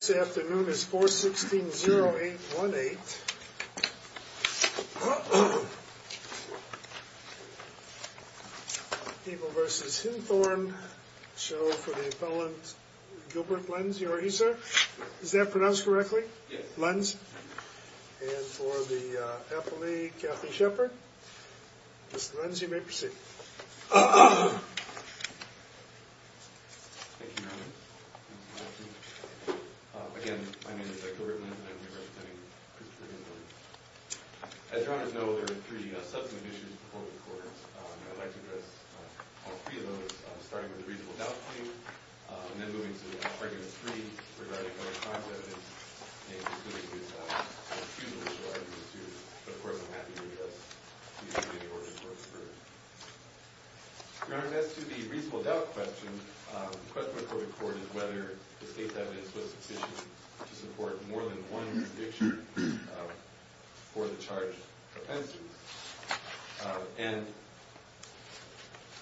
This afternoon is 4-16-0-8-1-8, People v. Hinthorn, show for the appellant Gilbert Lenz. Are you here, sir? Is that pronounced correctly? Lenz. And for the appellee, Kathy Shepard. Mr. Lenz, you may proceed. Again, my name is Gilbert Lenz, and I'm here representing Christopher Hinthorn. As Your Honor's know, there are three subsequent issues before the court. And I'd like to address all three of those, starting with the reasonable doubt claim, and then moving to Argument 3, regarding other crimes evidenced, including his refusal to argue the suit. But of course, I'm happy to address these three important court concerns. Your Honor, as to the reasonable doubt question, the question before the court is whether the state's evidence was sufficient to support more than one conviction for the charged offender. And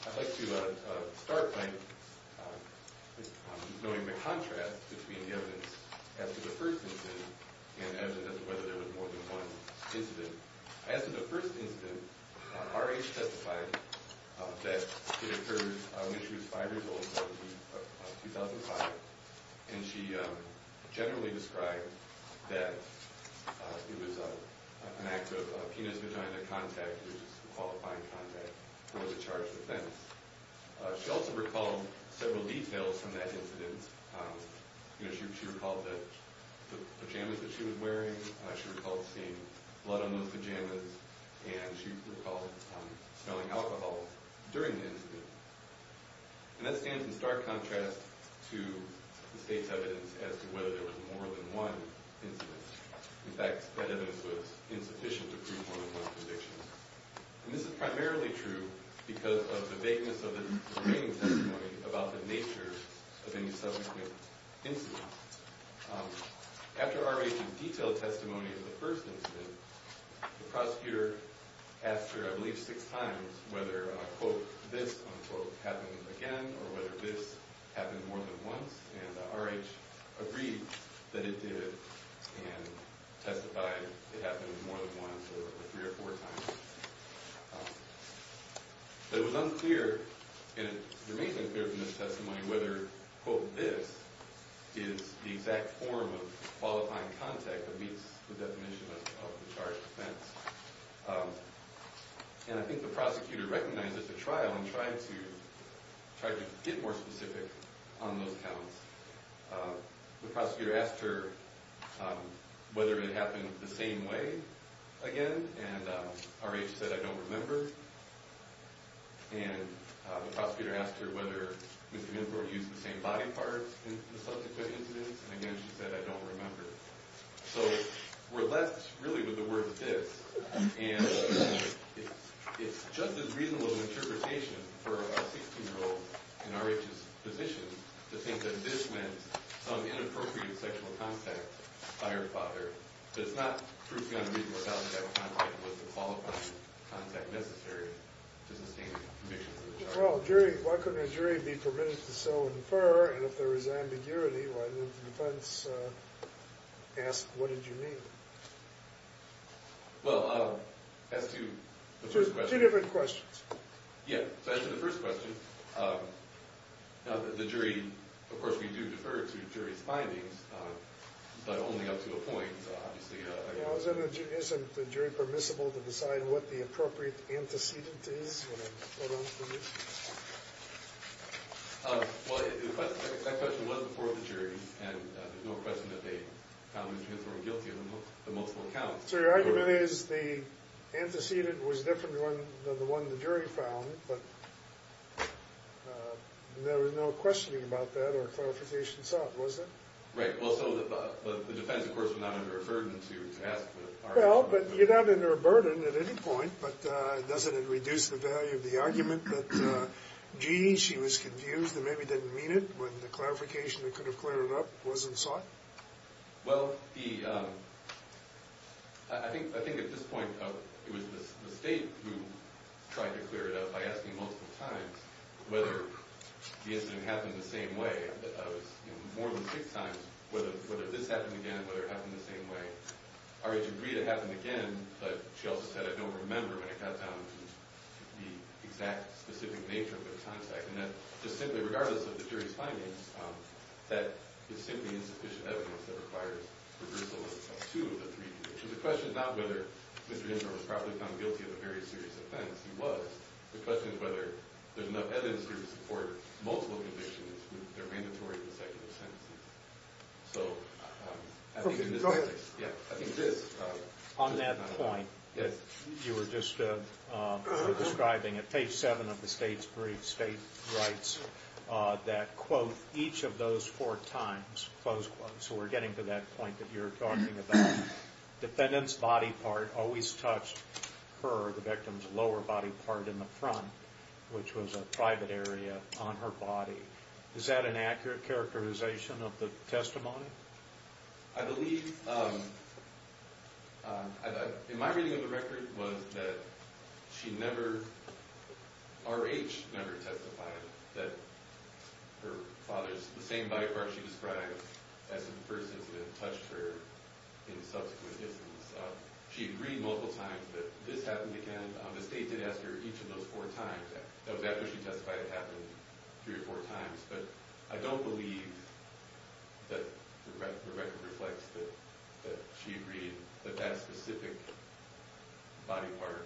I'd like to start by knowing the contrast between the evidence after the first incident and evidence of whether there was more than one incident. As to the first incident, R.H. testified that it occurred when she was five years old in 2005. And she generally described that it was an act of penis-vagina contact, which is a qualifying contact for the charged offense. She also recalled several details from that incident. She recalled the pajamas that she was wearing. She recalled seeing blood on those pajamas. And she recalled smelling alcohol during the incident. And that stands in stark contrast to the state's evidence as to whether there was more than one incident. In fact, that evidence was insufficient to prove more than one conviction. And this is primarily true because of the vagueness of the remaining testimony about the nature of any subsequent incident. After R.H.'s detailed testimony of the first incident, the prosecutor asked her, I believe six times, whether, quote, this, unquote, happened again or whether this happened more than once. And R.H. agreed that it did and testified it happened more than once or three or four times. It was unclear, and it remains unclear from this testimony, whether, quote, this is the exact form of qualifying contact that meets the definition of the charged offense. And I think the prosecutor recognized at the trial and tried to get more specific on those counts. The prosecutor asked her whether it happened the same way again. And R.H. said, I don't remember. And the prosecutor asked her whether Mr. Minford used the same body parts in the subsequent incidents. And again, she said, I don't remember. So we're left, really, with the word this. And it's just as reasonable an interpretation for a 16-year-old in R.H.'s position to think that this meant some inappropriate sexual contact by her father. It does not prove beyond a reasonable doubt that that contact was the qualifying contact necessary to sustain a conviction. Well, jury, why couldn't a jury be permitted to so infer? And if there was ambiguity, why didn't the defense ask, what did you mean? Well, as to the first question. Two different questions. Yeah. So as to the first question, the jury, of course, we do defer to jury's findings, but only up to a point, obviously. Isn't the jury permissible to decide what the appropriate antecedent is? Well, that question was before the jury, and there's no question that they found Mr. Minford guilty on the multiple accounts. So your argument is the antecedent was different than the one the jury found, but there was no questioning about that or clarification sought, was there? Right. Well, so the defense, of course, was not under a burden to ask the argument. Well, but you're not under a burden at any point, but doesn't it reduce the value of the argument that, gee, she was confused and maybe didn't mean it when the clarification that could have cleared it up wasn't sought? Well, I think at this point, it was the state who tried to clear it up by asking multiple times whether the incident happened the same way. More than six times, whether this happened again, whether it happened the same way. R.H. agreed it happened again, but she also said, I don't remember when it got down to the exact, specific nature of the contact. And that, just simply regardless of the jury's findings, that it's simply insufficient evidence that requires reversal of two of the three cases. So the question is not whether Mr. Minford was properly found guilty of a very serious offense. He was. The question is whether there's enough evidence here to support multiple convictions when they're mandatory consecutive sentences. So, I think in this context, yeah, I think it is. On that point, you were just describing it. Page seven of the state's brief, state writes that, quote, each of those four times, close quote. So we're getting to that point that you're talking about. Defendant's body part always touched her, the victim's lower body part in the front, which was a private area on her body. Is that an accurate characterization of the testimony? I believe, in my reading of the record, was that she never, R.H. never testified that her father's, the same body part she described, as in the first incident, touched her in subsequent instances. She agreed multiple times that this happened again. The state did ask her each of those four times. That was after she testified it happened three or four times. But I don't believe that the record reflects that she agreed that that specific body part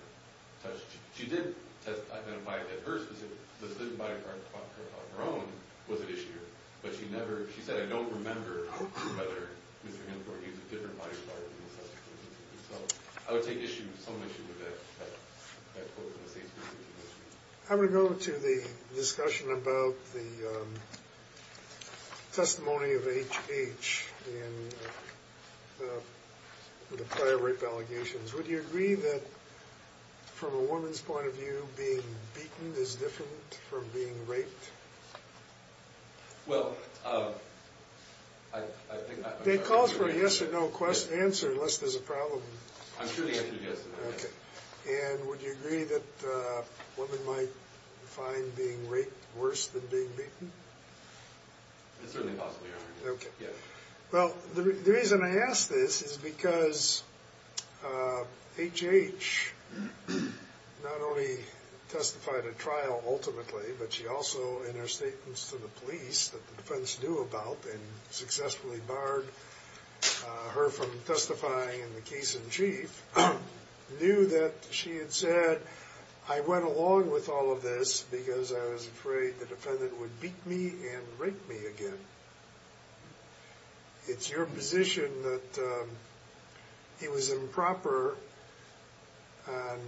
touched. She did identify that her specific body part, her own, was an issue. But she never, she said, I don't remember whether Mr. Minford used a different body part in subsequent instances. So I would take issue, some issue with that quote in the state's decision. I'm going to go to the discussion about the testimony of H.H. in the prior rape allegations. Would you agree that, from a woman's point of view, being beaten is different from being raped? Well, I, I think. They called for a yes or no question, answer, unless there's a problem. I'm sure the answer is yes. Okay. And would you agree that women might find being raped worse than being beaten? It's certainly possible, Your Honor. Okay. Well, the reason I ask this is because H.H. not only testified at trial ultimately, but she also, in her statements to the police that the defense knew about and successfully barred her from testifying in the case in chief, knew that she had said, I went along with all of this because I was afraid the defendant would beat me and rape me again. It's your position that it was improper and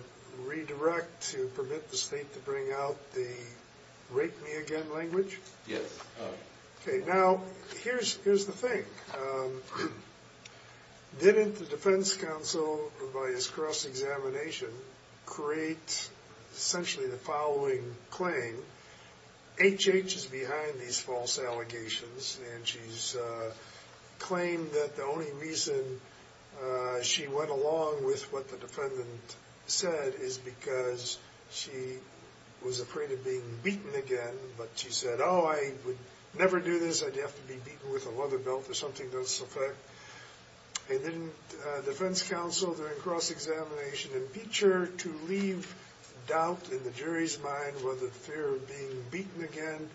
redirect to permit the state to bring out the rape me again language? Yes. Okay. Now, here's, here's the thing. Didn't the defense counsel, by his cross-examination, create essentially the following claim? H.H. is behind these false allegations, and she's claimed that the only reason she went along with what the defendant said is because she was afraid of being beaten again, but she said, oh, I would never do this. I'd have to be beaten with a leather belt or something of this effect. And didn't defense counsel, during cross-examination, impeach her to leave doubt in the jury's mind whether the fear of being beaten again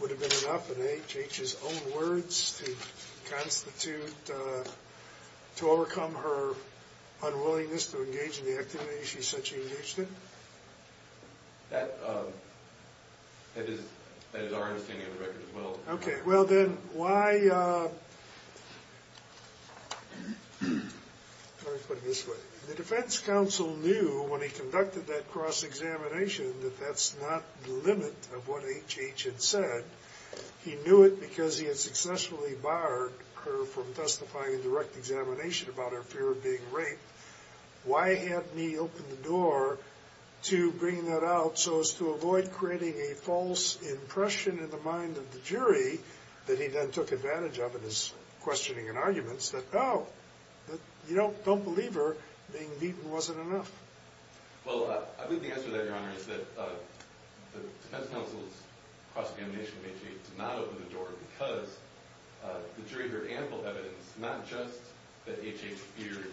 would have been enough, in H.H.'s own words, to constitute, to overcome her unwillingness to engage in the activity she said she engaged in? That, that is, that is our understanding of the record as well. Okay. Well, then, why, let me put it this way. The defense counsel knew, when he conducted that cross-examination, that that's not the limit of what H.H. had said. He knew it because he had successfully barred her from testifying in direct examination about her fear of being raped. Why hadn't he opened the door to bring that out so as to avoid creating a false impression in the mind of the jury that he then took advantage of in his questioning and arguments that, oh, you don't, don't believe her, being beaten wasn't enough? Well, I believe the answer to that, Your Honor, is that the defense counsel's cross-examination of H.H. did not open the door because the jury heard ample evidence not just that H.H. feared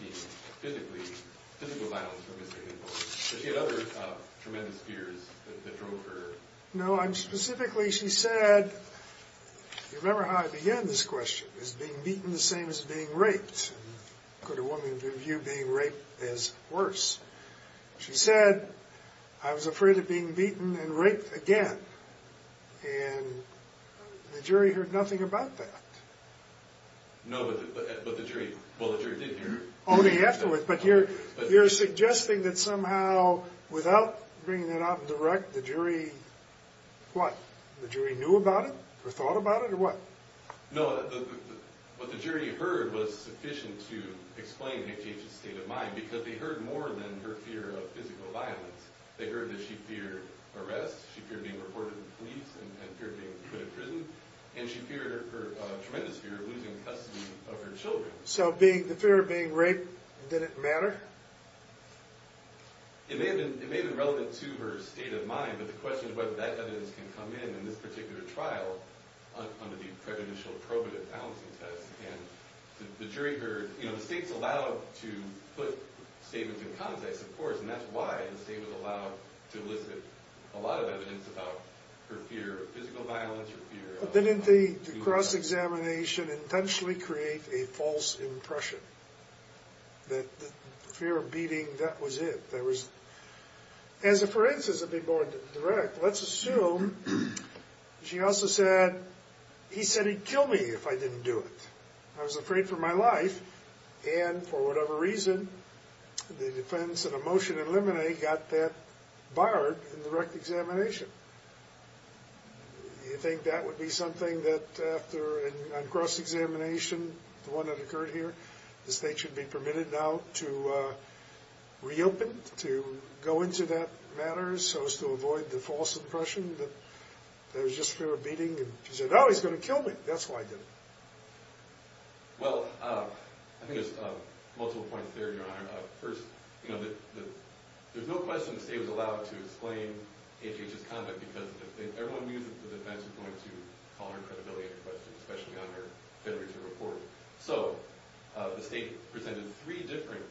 being physically, physical violence from Mr. Hinckley, but she had other tremendous fears that drove her. No, I'm specifically, she said, you remember how I began this question, is being beaten the same as being raped? Could a woman view being raped as worse? She said, I was afraid of being beaten and raped again. And the jury heard nothing about that. No, but the jury, well, the jury did hear it. Only afterward, but you're suggesting that somehow without bringing that up direct, the jury, what, the jury knew about it or thought about it or what? No, what the jury heard was sufficient to explain H.H.'s state of mind because they heard more than her fear of physical violence. They heard that she feared arrest, she feared being reported to the police and feared being put in prison, and she feared, her tremendous fear of losing custody of her children. So being, the fear of being raped, did it matter? It may have been, it may have been relevant to her state of mind, but the question is whether that evidence can come in in this particular trial under the prejudicial probative balancing test. And the jury heard, you know, the state's allowed to put statements in context, of course, and that's why the state was allowed to elicit a lot of evidence about her fear of physical violence or fear of... Well, didn't the cross-examination intentionally create a false impression that the fear of beating, that was it? That was, as a forensic, to be more direct, let's assume she also said, he said he'd kill me if I didn't do it. I was afraid for my life, and for whatever reason, the defense of a motion in limine got that barred in the direct examination. You think that would be something that after, on cross-examination, the one that occurred here, the state should be permitted now to reopen, to go into that matter, so as to avoid the false impression that there was just fear of beating, and she said, oh, he's going to kill me, that's why I did it. Well, I think there's multiple points there, Your Honor. First, you know, there's no question the state was allowed to explain A.J.'s conduct, because everyone knew that the defense was going to call her credibility into question, especially on her literature report. So, the state presented three different,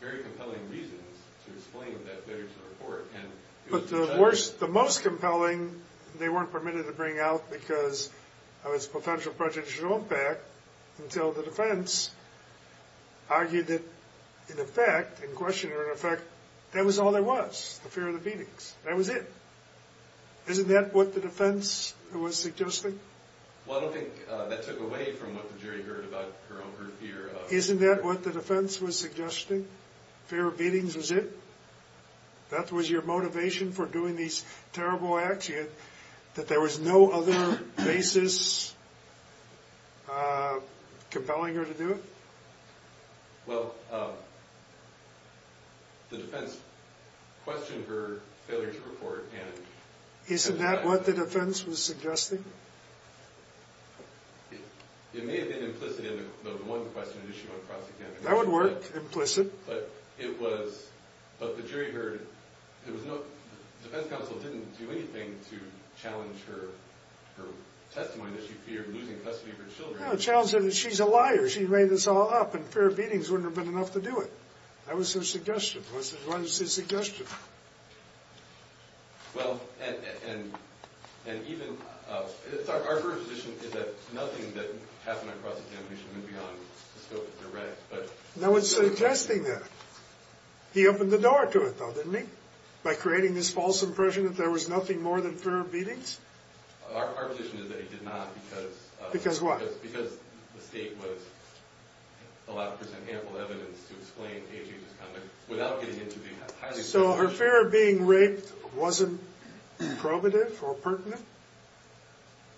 very compelling reasons to explain that literature report, and... But the worst, the most compelling, they weren't permitted to bring out because of its potential prejudicial impact, until the defense argued that, in effect, in question or in effect, that was all there was, the fear of the beatings. That was it. Isn't that what the defense was suggesting? Well, I don't think that took away from what the jury heard about her own group here. Isn't that what the defense was suggesting? Fear of beatings was it? That was your motivation for doing these terrible acts? That there was no other basis compelling her to do it? Well, the defense questioned her failure to report, and... Isn't that what the defense was suggesting? It may have been implicit in the one question, did she want to prosecute? That would work, implicit. But it was, but the jury heard, there was no, the defense counsel didn't do anything to challenge her, her testimony that she feared losing custody of her children. No, challenge that she's a liar, she made this all up, and fear of beatings wouldn't have been enough to do it. That was her suggestion. Why is this a suggestion? Well, and, and, and even, our position is that nothing that happened on cross-examination went beyond the scope of direct, but... No one's suggesting that. He opened the door to it, though, didn't he? By creating this false impression that there was nothing more than fear of beatings? Our, our position is that he did not because... Because what? Because the state was allowed to present ample evidence to explain AJ's conduct without getting into the highly... So her fear of being raped wasn't probative or pertinent?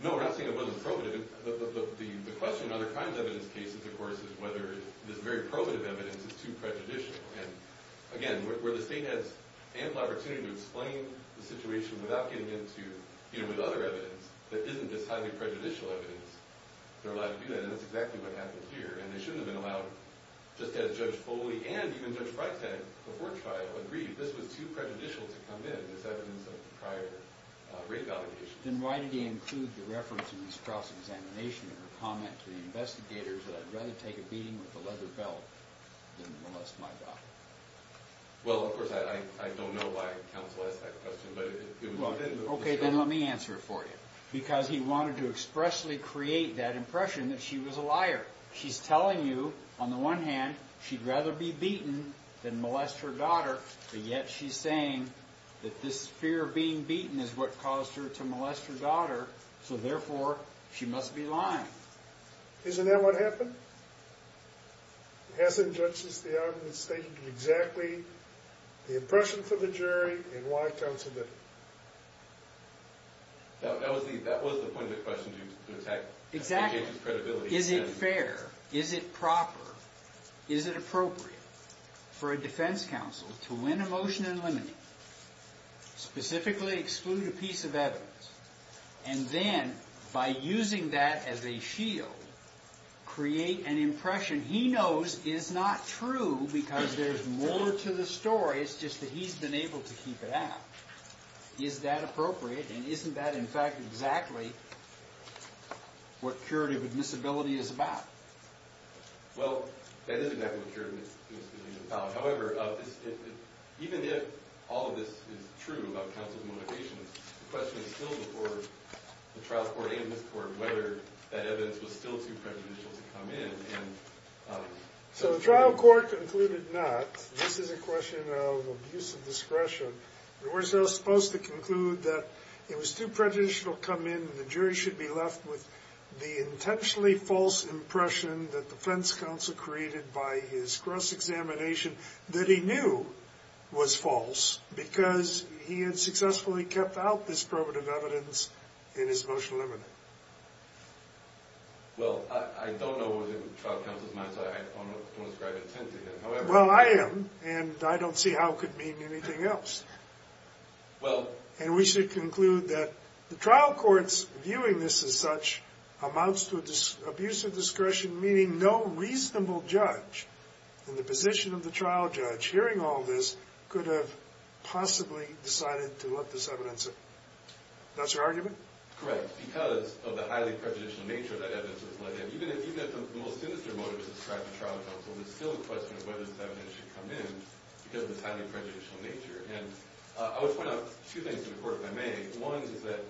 No, we're not saying it wasn't probative. The, the question in other crimes evidence cases, of course, is whether this very probative evidence is too prejudicial. And, again, where the state has ample opportunity to explain the situation without getting into, you know, with other evidence that isn't this highly prejudicial evidence, they're allowed to do that, and that's exactly what happened here. And they shouldn't have been allowed, just as Judge Foley and even Judge Bright said before trial, agreed, this was too prejudicial to come in, this evidence of prior rape allegations. Then why did he include the reference in this cross-examination in her comment to the investigators that I'd rather take a beating with a leather belt than molest my daughter? Well, of course, I, I, I don't know why counsel asked that question, but it, it was brought in... Okay, then let me answer it for you. Because he wanted to expressly create that impression that she was a liar. She's telling you, on the one hand, she'd rather be beaten than molest her daughter, but yet she's saying that this fear of being beaten is what caused her to molest her daughter, so, therefore, she must be lying. Isn't that what happened? Hasn't Judge Theon mistaken exactly the impression for the jury and why counsel did it? That, that was the, that was the point of the question, to attack... Exactly. Is it fair, is it proper, is it appropriate for a defense counsel to win a motion in limine, specifically exclude a piece of evidence, and then, by using that as a shield, create an impression he knows is not true because there's more to the story, it's just that he's been able to keep it out. Is that appropriate? And isn't that, in fact, exactly what curative admissibility is about? Well, that is exactly what curative admissibility is about. However, even if all of this is true about counsel's motivation, the question is still before the trial court and this court whether that evidence was still too prejudicial to come in. So the trial court concluded not. This is a question of abuse of discretion. We're still supposed to conclude that it was too prejudicial to come in and the jury should be left with the intentionally false impression that the defense counsel created by his cross-examination that he knew was false because he had successfully kept out this probative evidence in his motion limine. Well, I don't know what was in the trial counsel's mind, so I don't want to ascribe intent to that. Well, I am, and I don't see how it could mean anything else. And we should conclude that the trial court's viewing this as such amounts to abuse of discretion, meaning no reasonable judge in the position of the trial judge hearing all this could have possibly decided to let this evidence in. That's your argument? Correct. Because of the highly prejudicial nature of that evidence, even if the most sinister motive is to describe the trial counsel, there's still a question of whether this evidence should come in because of the highly prejudicial nature. And I would point out two things to the court if I may. One is that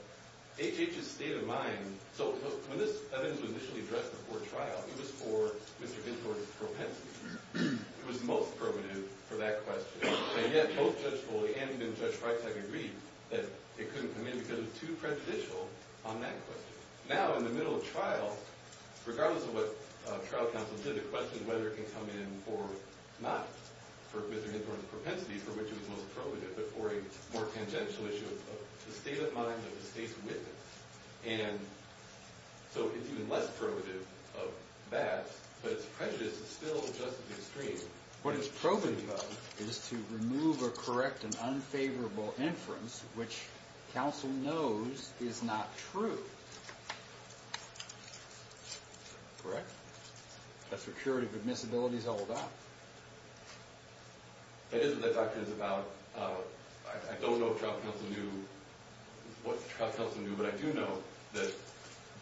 HH's state of mind, so when this evidence was initially addressed before trial, it was for Mr. Ginsburg's propensity. It was the most probative for that question. And yet both Judge Foley and even Judge Freitag agreed that it couldn't come in because it was too prejudicial on that question. Now, in the middle of trial, regardless of what trial counsel did, the question is whether it can come in or not for Mr. Ginsburg's propensity, for which it was most probative, but for a more tangential issue of the state of mind of the state's witness. And so it's even less probative of that, but it's prejudiced still just as extreme. What it's probative of is to remove a correct and unfavorable inference which counsel knows is not true. Correct? That security of admissibility is held up. That is what that question is about. I don't know if trial counsel knew what trial counsel knew, but I do know that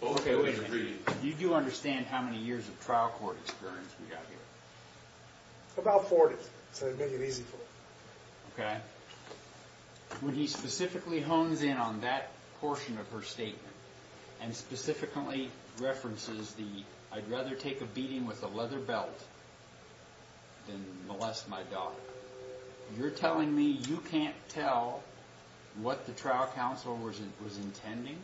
both of them agreed. Do you understand how many years of trial court experience we have here? About 40, to make it easy for you. When he specifically hones in on that portion of her statement and specifically references the, I'd rather take a beating with a leather belt than molest my daughter, you're telling me you can't tell what the trial counsel was intending?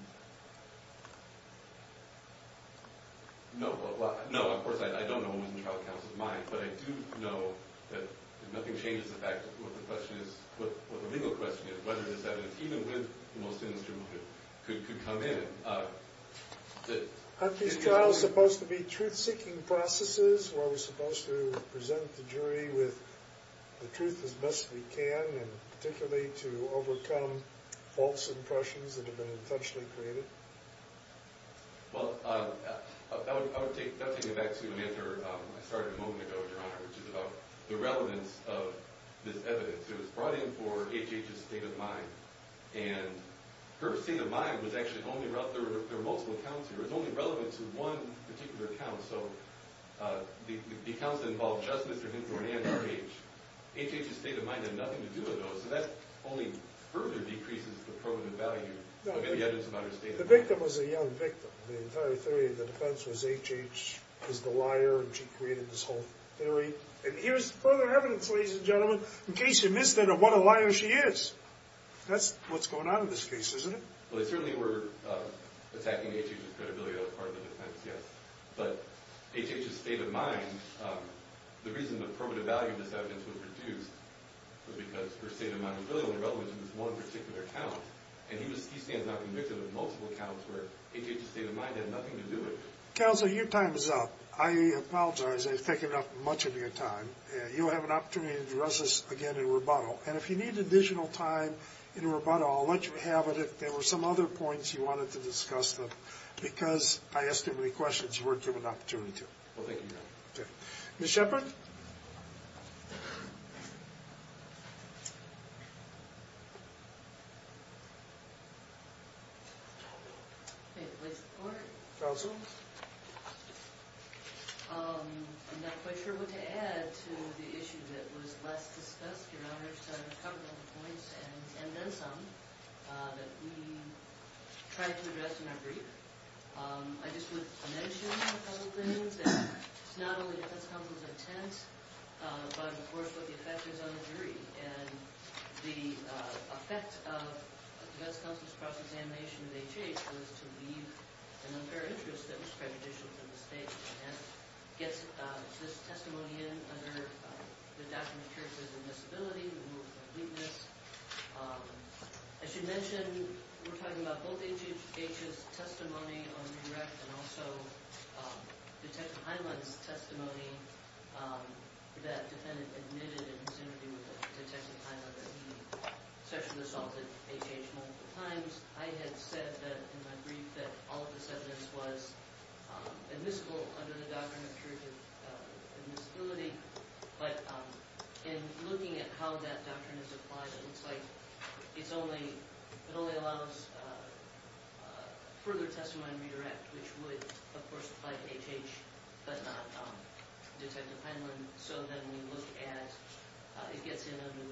No, of course I don't know what was in trial counsel's mind, but I do know that nothing changes the fact of what the question is, what the legal question is, whether it is that even with the most sinister movement could come in. Aren't these trials supposed to be truth-seeking processes where we're supposed to present the jury with the truth as best we can, and particularly to overcome false impressions that have been intentionally created? Well, that would take me back to an answer I started a moment ago, Your Honor, which is about the relevance of this evidence. It was brought in for H.H.'s state of mind, and her state of mind was actually only relevant, there were multiple accounts here, it was only relevant to one particular account, so the accounts that involved just Mr. Hinton and H.H. H.H.'s state of mind had nothing to do with those, so that only further decreases the proven value of any evidence about her state of mind. The victim was a young victim. The entire theory of the defense was H.H. is the liar, and she created this whole theory, and here's further evidence, ladies and gentlemen, in case you missed it of what a liar she is. That's what's going on in this case, isn't it? Well, they certainly were attacking H.H.'s credibility, that was part of the defense, yes, but H.H.'s state of mind, the reason the primitive value of this evidence was reduced was because her state of mind was really only relevant to this one particular account, and he stands out convicted of multiple accounts where H.H.'s state of mind had nothing to do with it. Counselor, your time is up. I apologize, I've taken up much of your time. You'll have an opportunity to address this again in rebuttal, and if you need additional time in rebuttal, I'll let you have it if there were some other points you wanted to discuss, because I asked too many questions you weren't given an opportunity to. Well, thank you, Your Honor. Okay. Ms. Shepard? May it please the Court? Counsel? I'm not quite sure what to add to the issue that was last discussed, Your Honor, which covered all the points, and then some, that we tried to address in our brief. I just would mention a couple things, and it's not only the defense counsel's intent, but, of course, what the effect is on the jury, and the effect of the defense counsel's process of examination of H.H. was to leave an unfair interest that was prejudicial to the state, and that gets this testimony in under the document, which says, Invisibility, Removal of Weakness. I should mention, we're talking about both H.H.'s testimony on the direct and also Detective Heinlein's testimony that the defendant admitted in his interview with Detective Heinlein that he sexually assaulted H.H. multiple times. I had said that, in my brief, that all of the evidence was admissible under the doctrine of juridical admissibility, but in looking at how that doctrine is applied, it looks like it only allows further testimony on redirect, which would, of course, apply to H.H., but not Detective Heinlein. So then we look at, it gets in under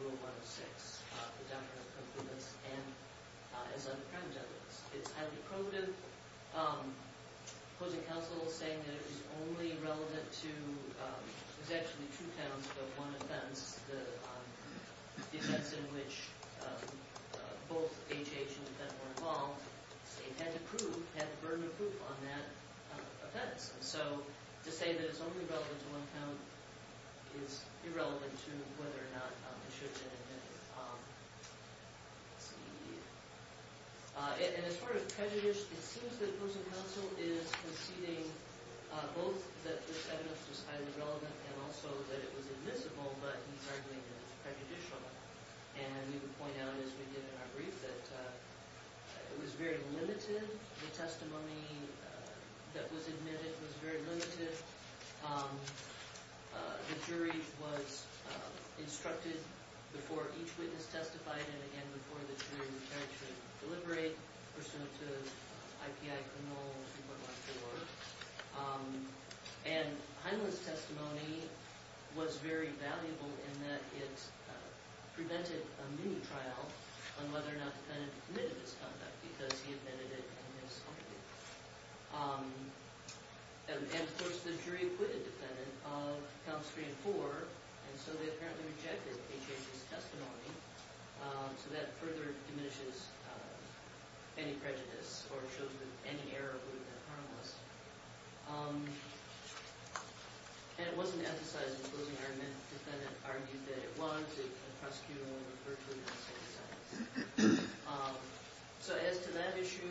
Rule 106, the Doctrine of Compliance, and it's on the Crime Debate List. It's highly probative opposing counsel saying that it was only relevant to, it was actually two counts, but one offense, the offense in which both H.H. and the defendant were involved, they had to prove, had the burden of proof on that offense. So to say that it's only relevant to one count is irrelevant to whether or not it should have been admitted. And it's sort of prejudiced. It seems that opposing counsel is conceding both that this evidence was highly relevant and also that it was admissible, but he's arguing that it's prejudicial. And you can point out, as we did in our brief, that it was very limited. The testimony that was admitted was very limited. The jury was instructed before each witness testified and, again, before the jury returned to deliberate, or so to I.P.I. Grinnell and what not to look. And Heinlein's testimony was very valuable in that it prevented a mini-trial on whether or not the defendant admitted his conduct because he admitted it in his own view. And, of course, the jury acquitted the defendant of counts three and four, and so they apparently rejected H.H.'s testimony. So that further diminishes any prejudice or shows that any error would have been harmless. And it wasn't emphasized in the closing argument. The defendant argued that it was. The prosecutor will refer to it in the same sentence. So as to that issue,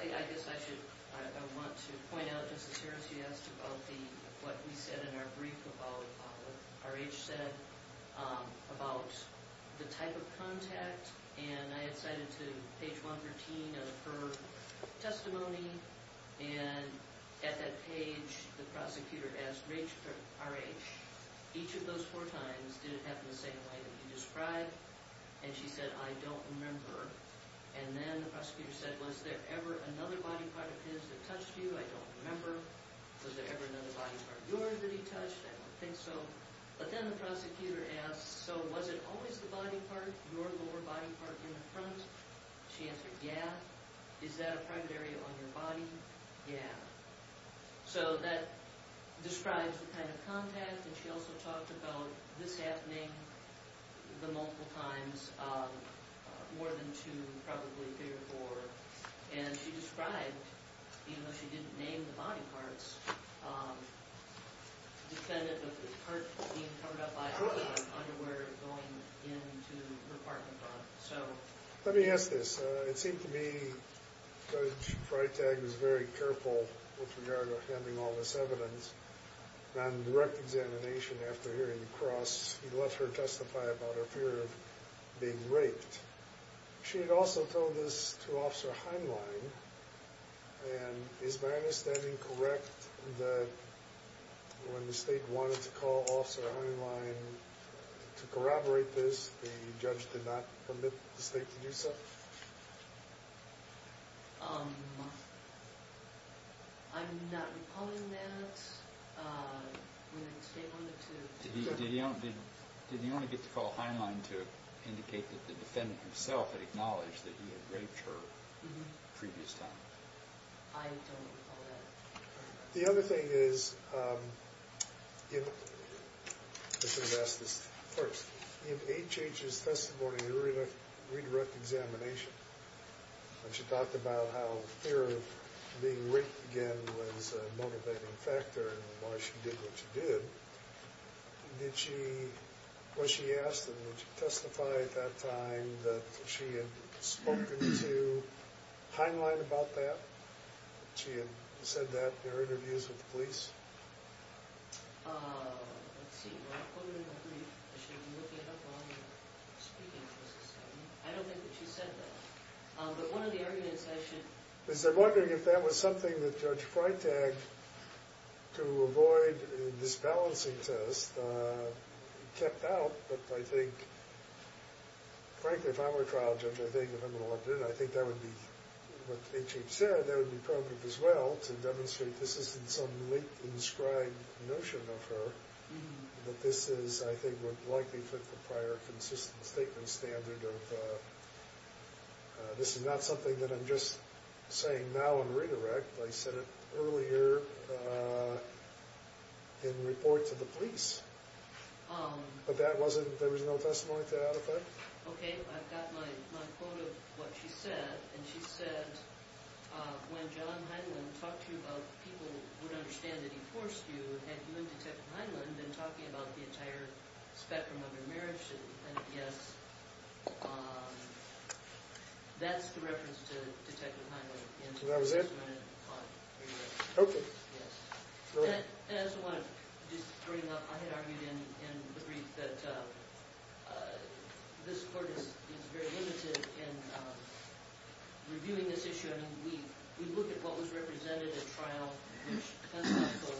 I guess I want to point out, Justice Harris, you asked about what we said in our brief about what R.H. said about the type of contact. And I had cited to page 113 of her testimony. And at that page, the prosecutor asked R.H., each of those four times, did it happen the same way that you described? And she said, I don't remember. And then the prosecutor said, was there ever another body part of his that touched you? I don't remember. Was there ever another body part of yours that he touched? I don't think so. But then the prosecutor asked, so was it always the body part, your lower body part in the front? She answered, yeah. Is that a primary on your body? Yeah. So that describes the kind of contact. And she also talked about this happening the multiple times, more than two, probably three or four. And she described, even though she didn't name the body parts, the defendant of the part being covered up by her underwear going into her parking lot. Let me ask this. It seemed to me Judge Freitag was very careful with regard to handling all this evidence. On direct examination after hearing the cross, he let her testify about her fear of being raped. She had also told this to Officer Heinlein. And is my understanding correct that when the state wanted to call Officer Heinlein to corroborate this, the judge did not permit the state to do so? I'm not recalling that. When the state wanted to— Did he only get to call Heinlein to indicate that the defendant himself had acknowledged that he had raped her the previous time? I don't recall that. The other thing is— Let me ask this first. In H.H.'s testimony during a redirect examination, when she talked about how fear of being raped again was a motivating factor in why she did what she did, did she—was she asked and did she testify at that time that she had spoken to Heinlein about that? She had said that in her interviews with the police? Let's see. Well, I'll put it in my brief. I should be looking it up while I'm speaking to this testimony. I don't think that she said that. But one of the arguments I should— Because I'm wondering if that was something that Judge Freitag, to avoid a disbalancing test, kept out. But I think, frankly, if I were a trial judge, I think if I'm going to look at it, I think that would be what H.H. said. I would be probative as well to demonstrate this isn't some late inscribed notion of her, that this is, I think, what likely fit the prior consistent statement standard of— This is not something that I'm just saying now in redirect. I said it earlier in report to the police. But that wasn't—there was no testimony to that effect? Okay. I've got my quote of what she said. And she said, when John Heinlein talked to you about people who would understand that he forced you, had you and Detective Heinlein been talking about the entire spectrum of your marriage, and yes, that's the reference to Detective Heinlein. And that was it? Okay. Yes. As I wanted to just bring up, I had argued in the brief that this court is very limited in reviewing this issue. I mean, we look at what was represented at trial, which Hensley also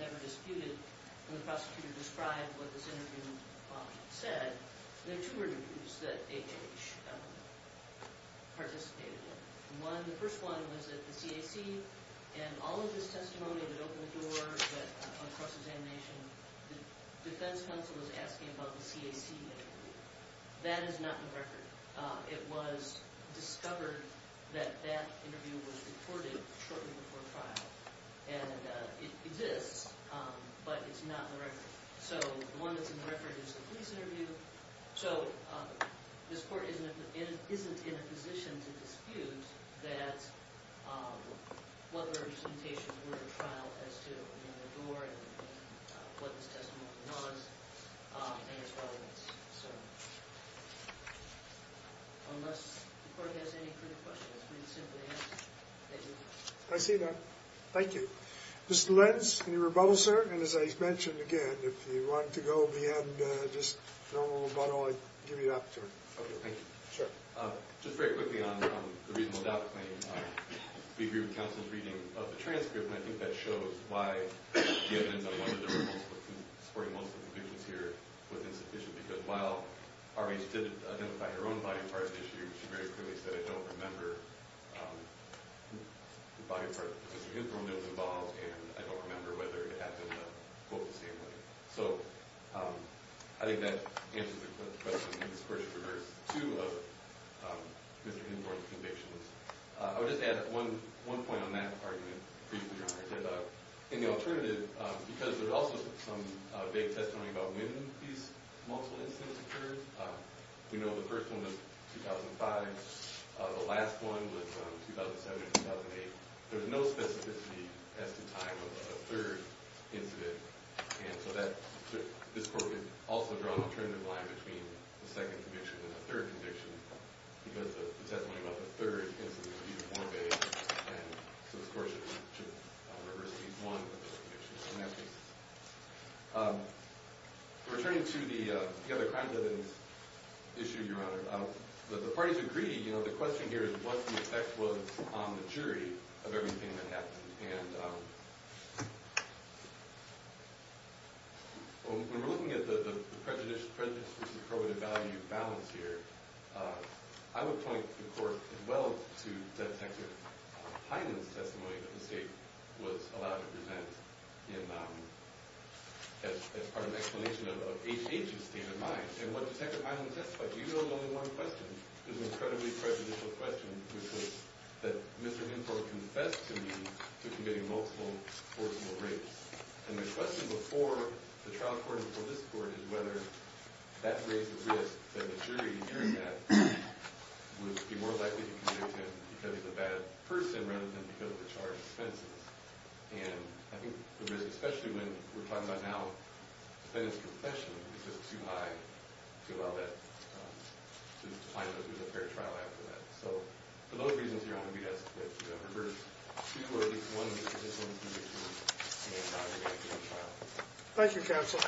never disputed, and the prosecutor described what this interview said. There are two interviews that H.H. participated in. One, the first one, was at the CAC, and all of this testimony that opened the door, that cross-examination, the defense counsel was asking about the CAC interview. That is not in the record. It was discovered that that interview was recorded shortly before trial. And it exists, but it's not in the record. So the one that's in the record is the police interview. So this court isn't in a position to dispute that what representations were at trial as to the door and what this testimony was and its relevance. So unless the court has any further questions, please simply ask. Thank you. I see that. Mr. Lenz, any rebuttals, sir? And as I mentioned again, if you want to go at the end, just a little rebuttal, I'd give you the opportunity. Okay, thank you. Just very quickly on the reasonable doubt claim. We agree with counsel's reading of the transcript, and I think that shows why the evidence on one of the rules supporting most of the convictions here was insufficient, because while R.H. did identify her own body part issue, she very clearly said, I don't remember the body part of Mr. Hinthorn that was involved, and I don't remember whether it happened both the same way. So I think that answers the question. And this court should reverse two of Mr. Hinthorn's convictions. I would just add one point on that argument for you to draw your attention to. In the alternative, because there's also some vague testimony about when these multiple incidents occurred, we know the first one was 2005. The last one was 2007 or 2008. There's no specificity as to time of a third incident, and so this court could also draw an alternative line between the second conviction and the third conviction, because the testimony about the third incident would be more vague, and so this court should reverse these one or the other convictions in that case. Returning to the other crime evidence issue, Your Honor, the parties agree, you know, the question here is what the effect was on the jury of everything that happened. And when we're looking at the prejudice versus probative value balance here, I would point the court as well to Detective Hyland's testimony that the state was allowed to present as part of an explanation of H.H.'s state of mind. And what Detective Hyland testified, even though it was only one question, was an incredibly prejudicial question, which was that Mr. Hinthorn confessed to me to committing multiple forcible rapes. And the question before the trial court and before this court is whether that raised a risk that the jury hearing that would be more likely to convict him because he's a bad person rather than because of the charged offenses. And I think the risk, especially when we're talking about now defendant's confession, is just too high to allow that, to find out if there's a fair trial after that. So for those reasons, Your Honor, we ask that you reverse two or at least one of these positions in between the entire case and the trial. Thank you, Counsel.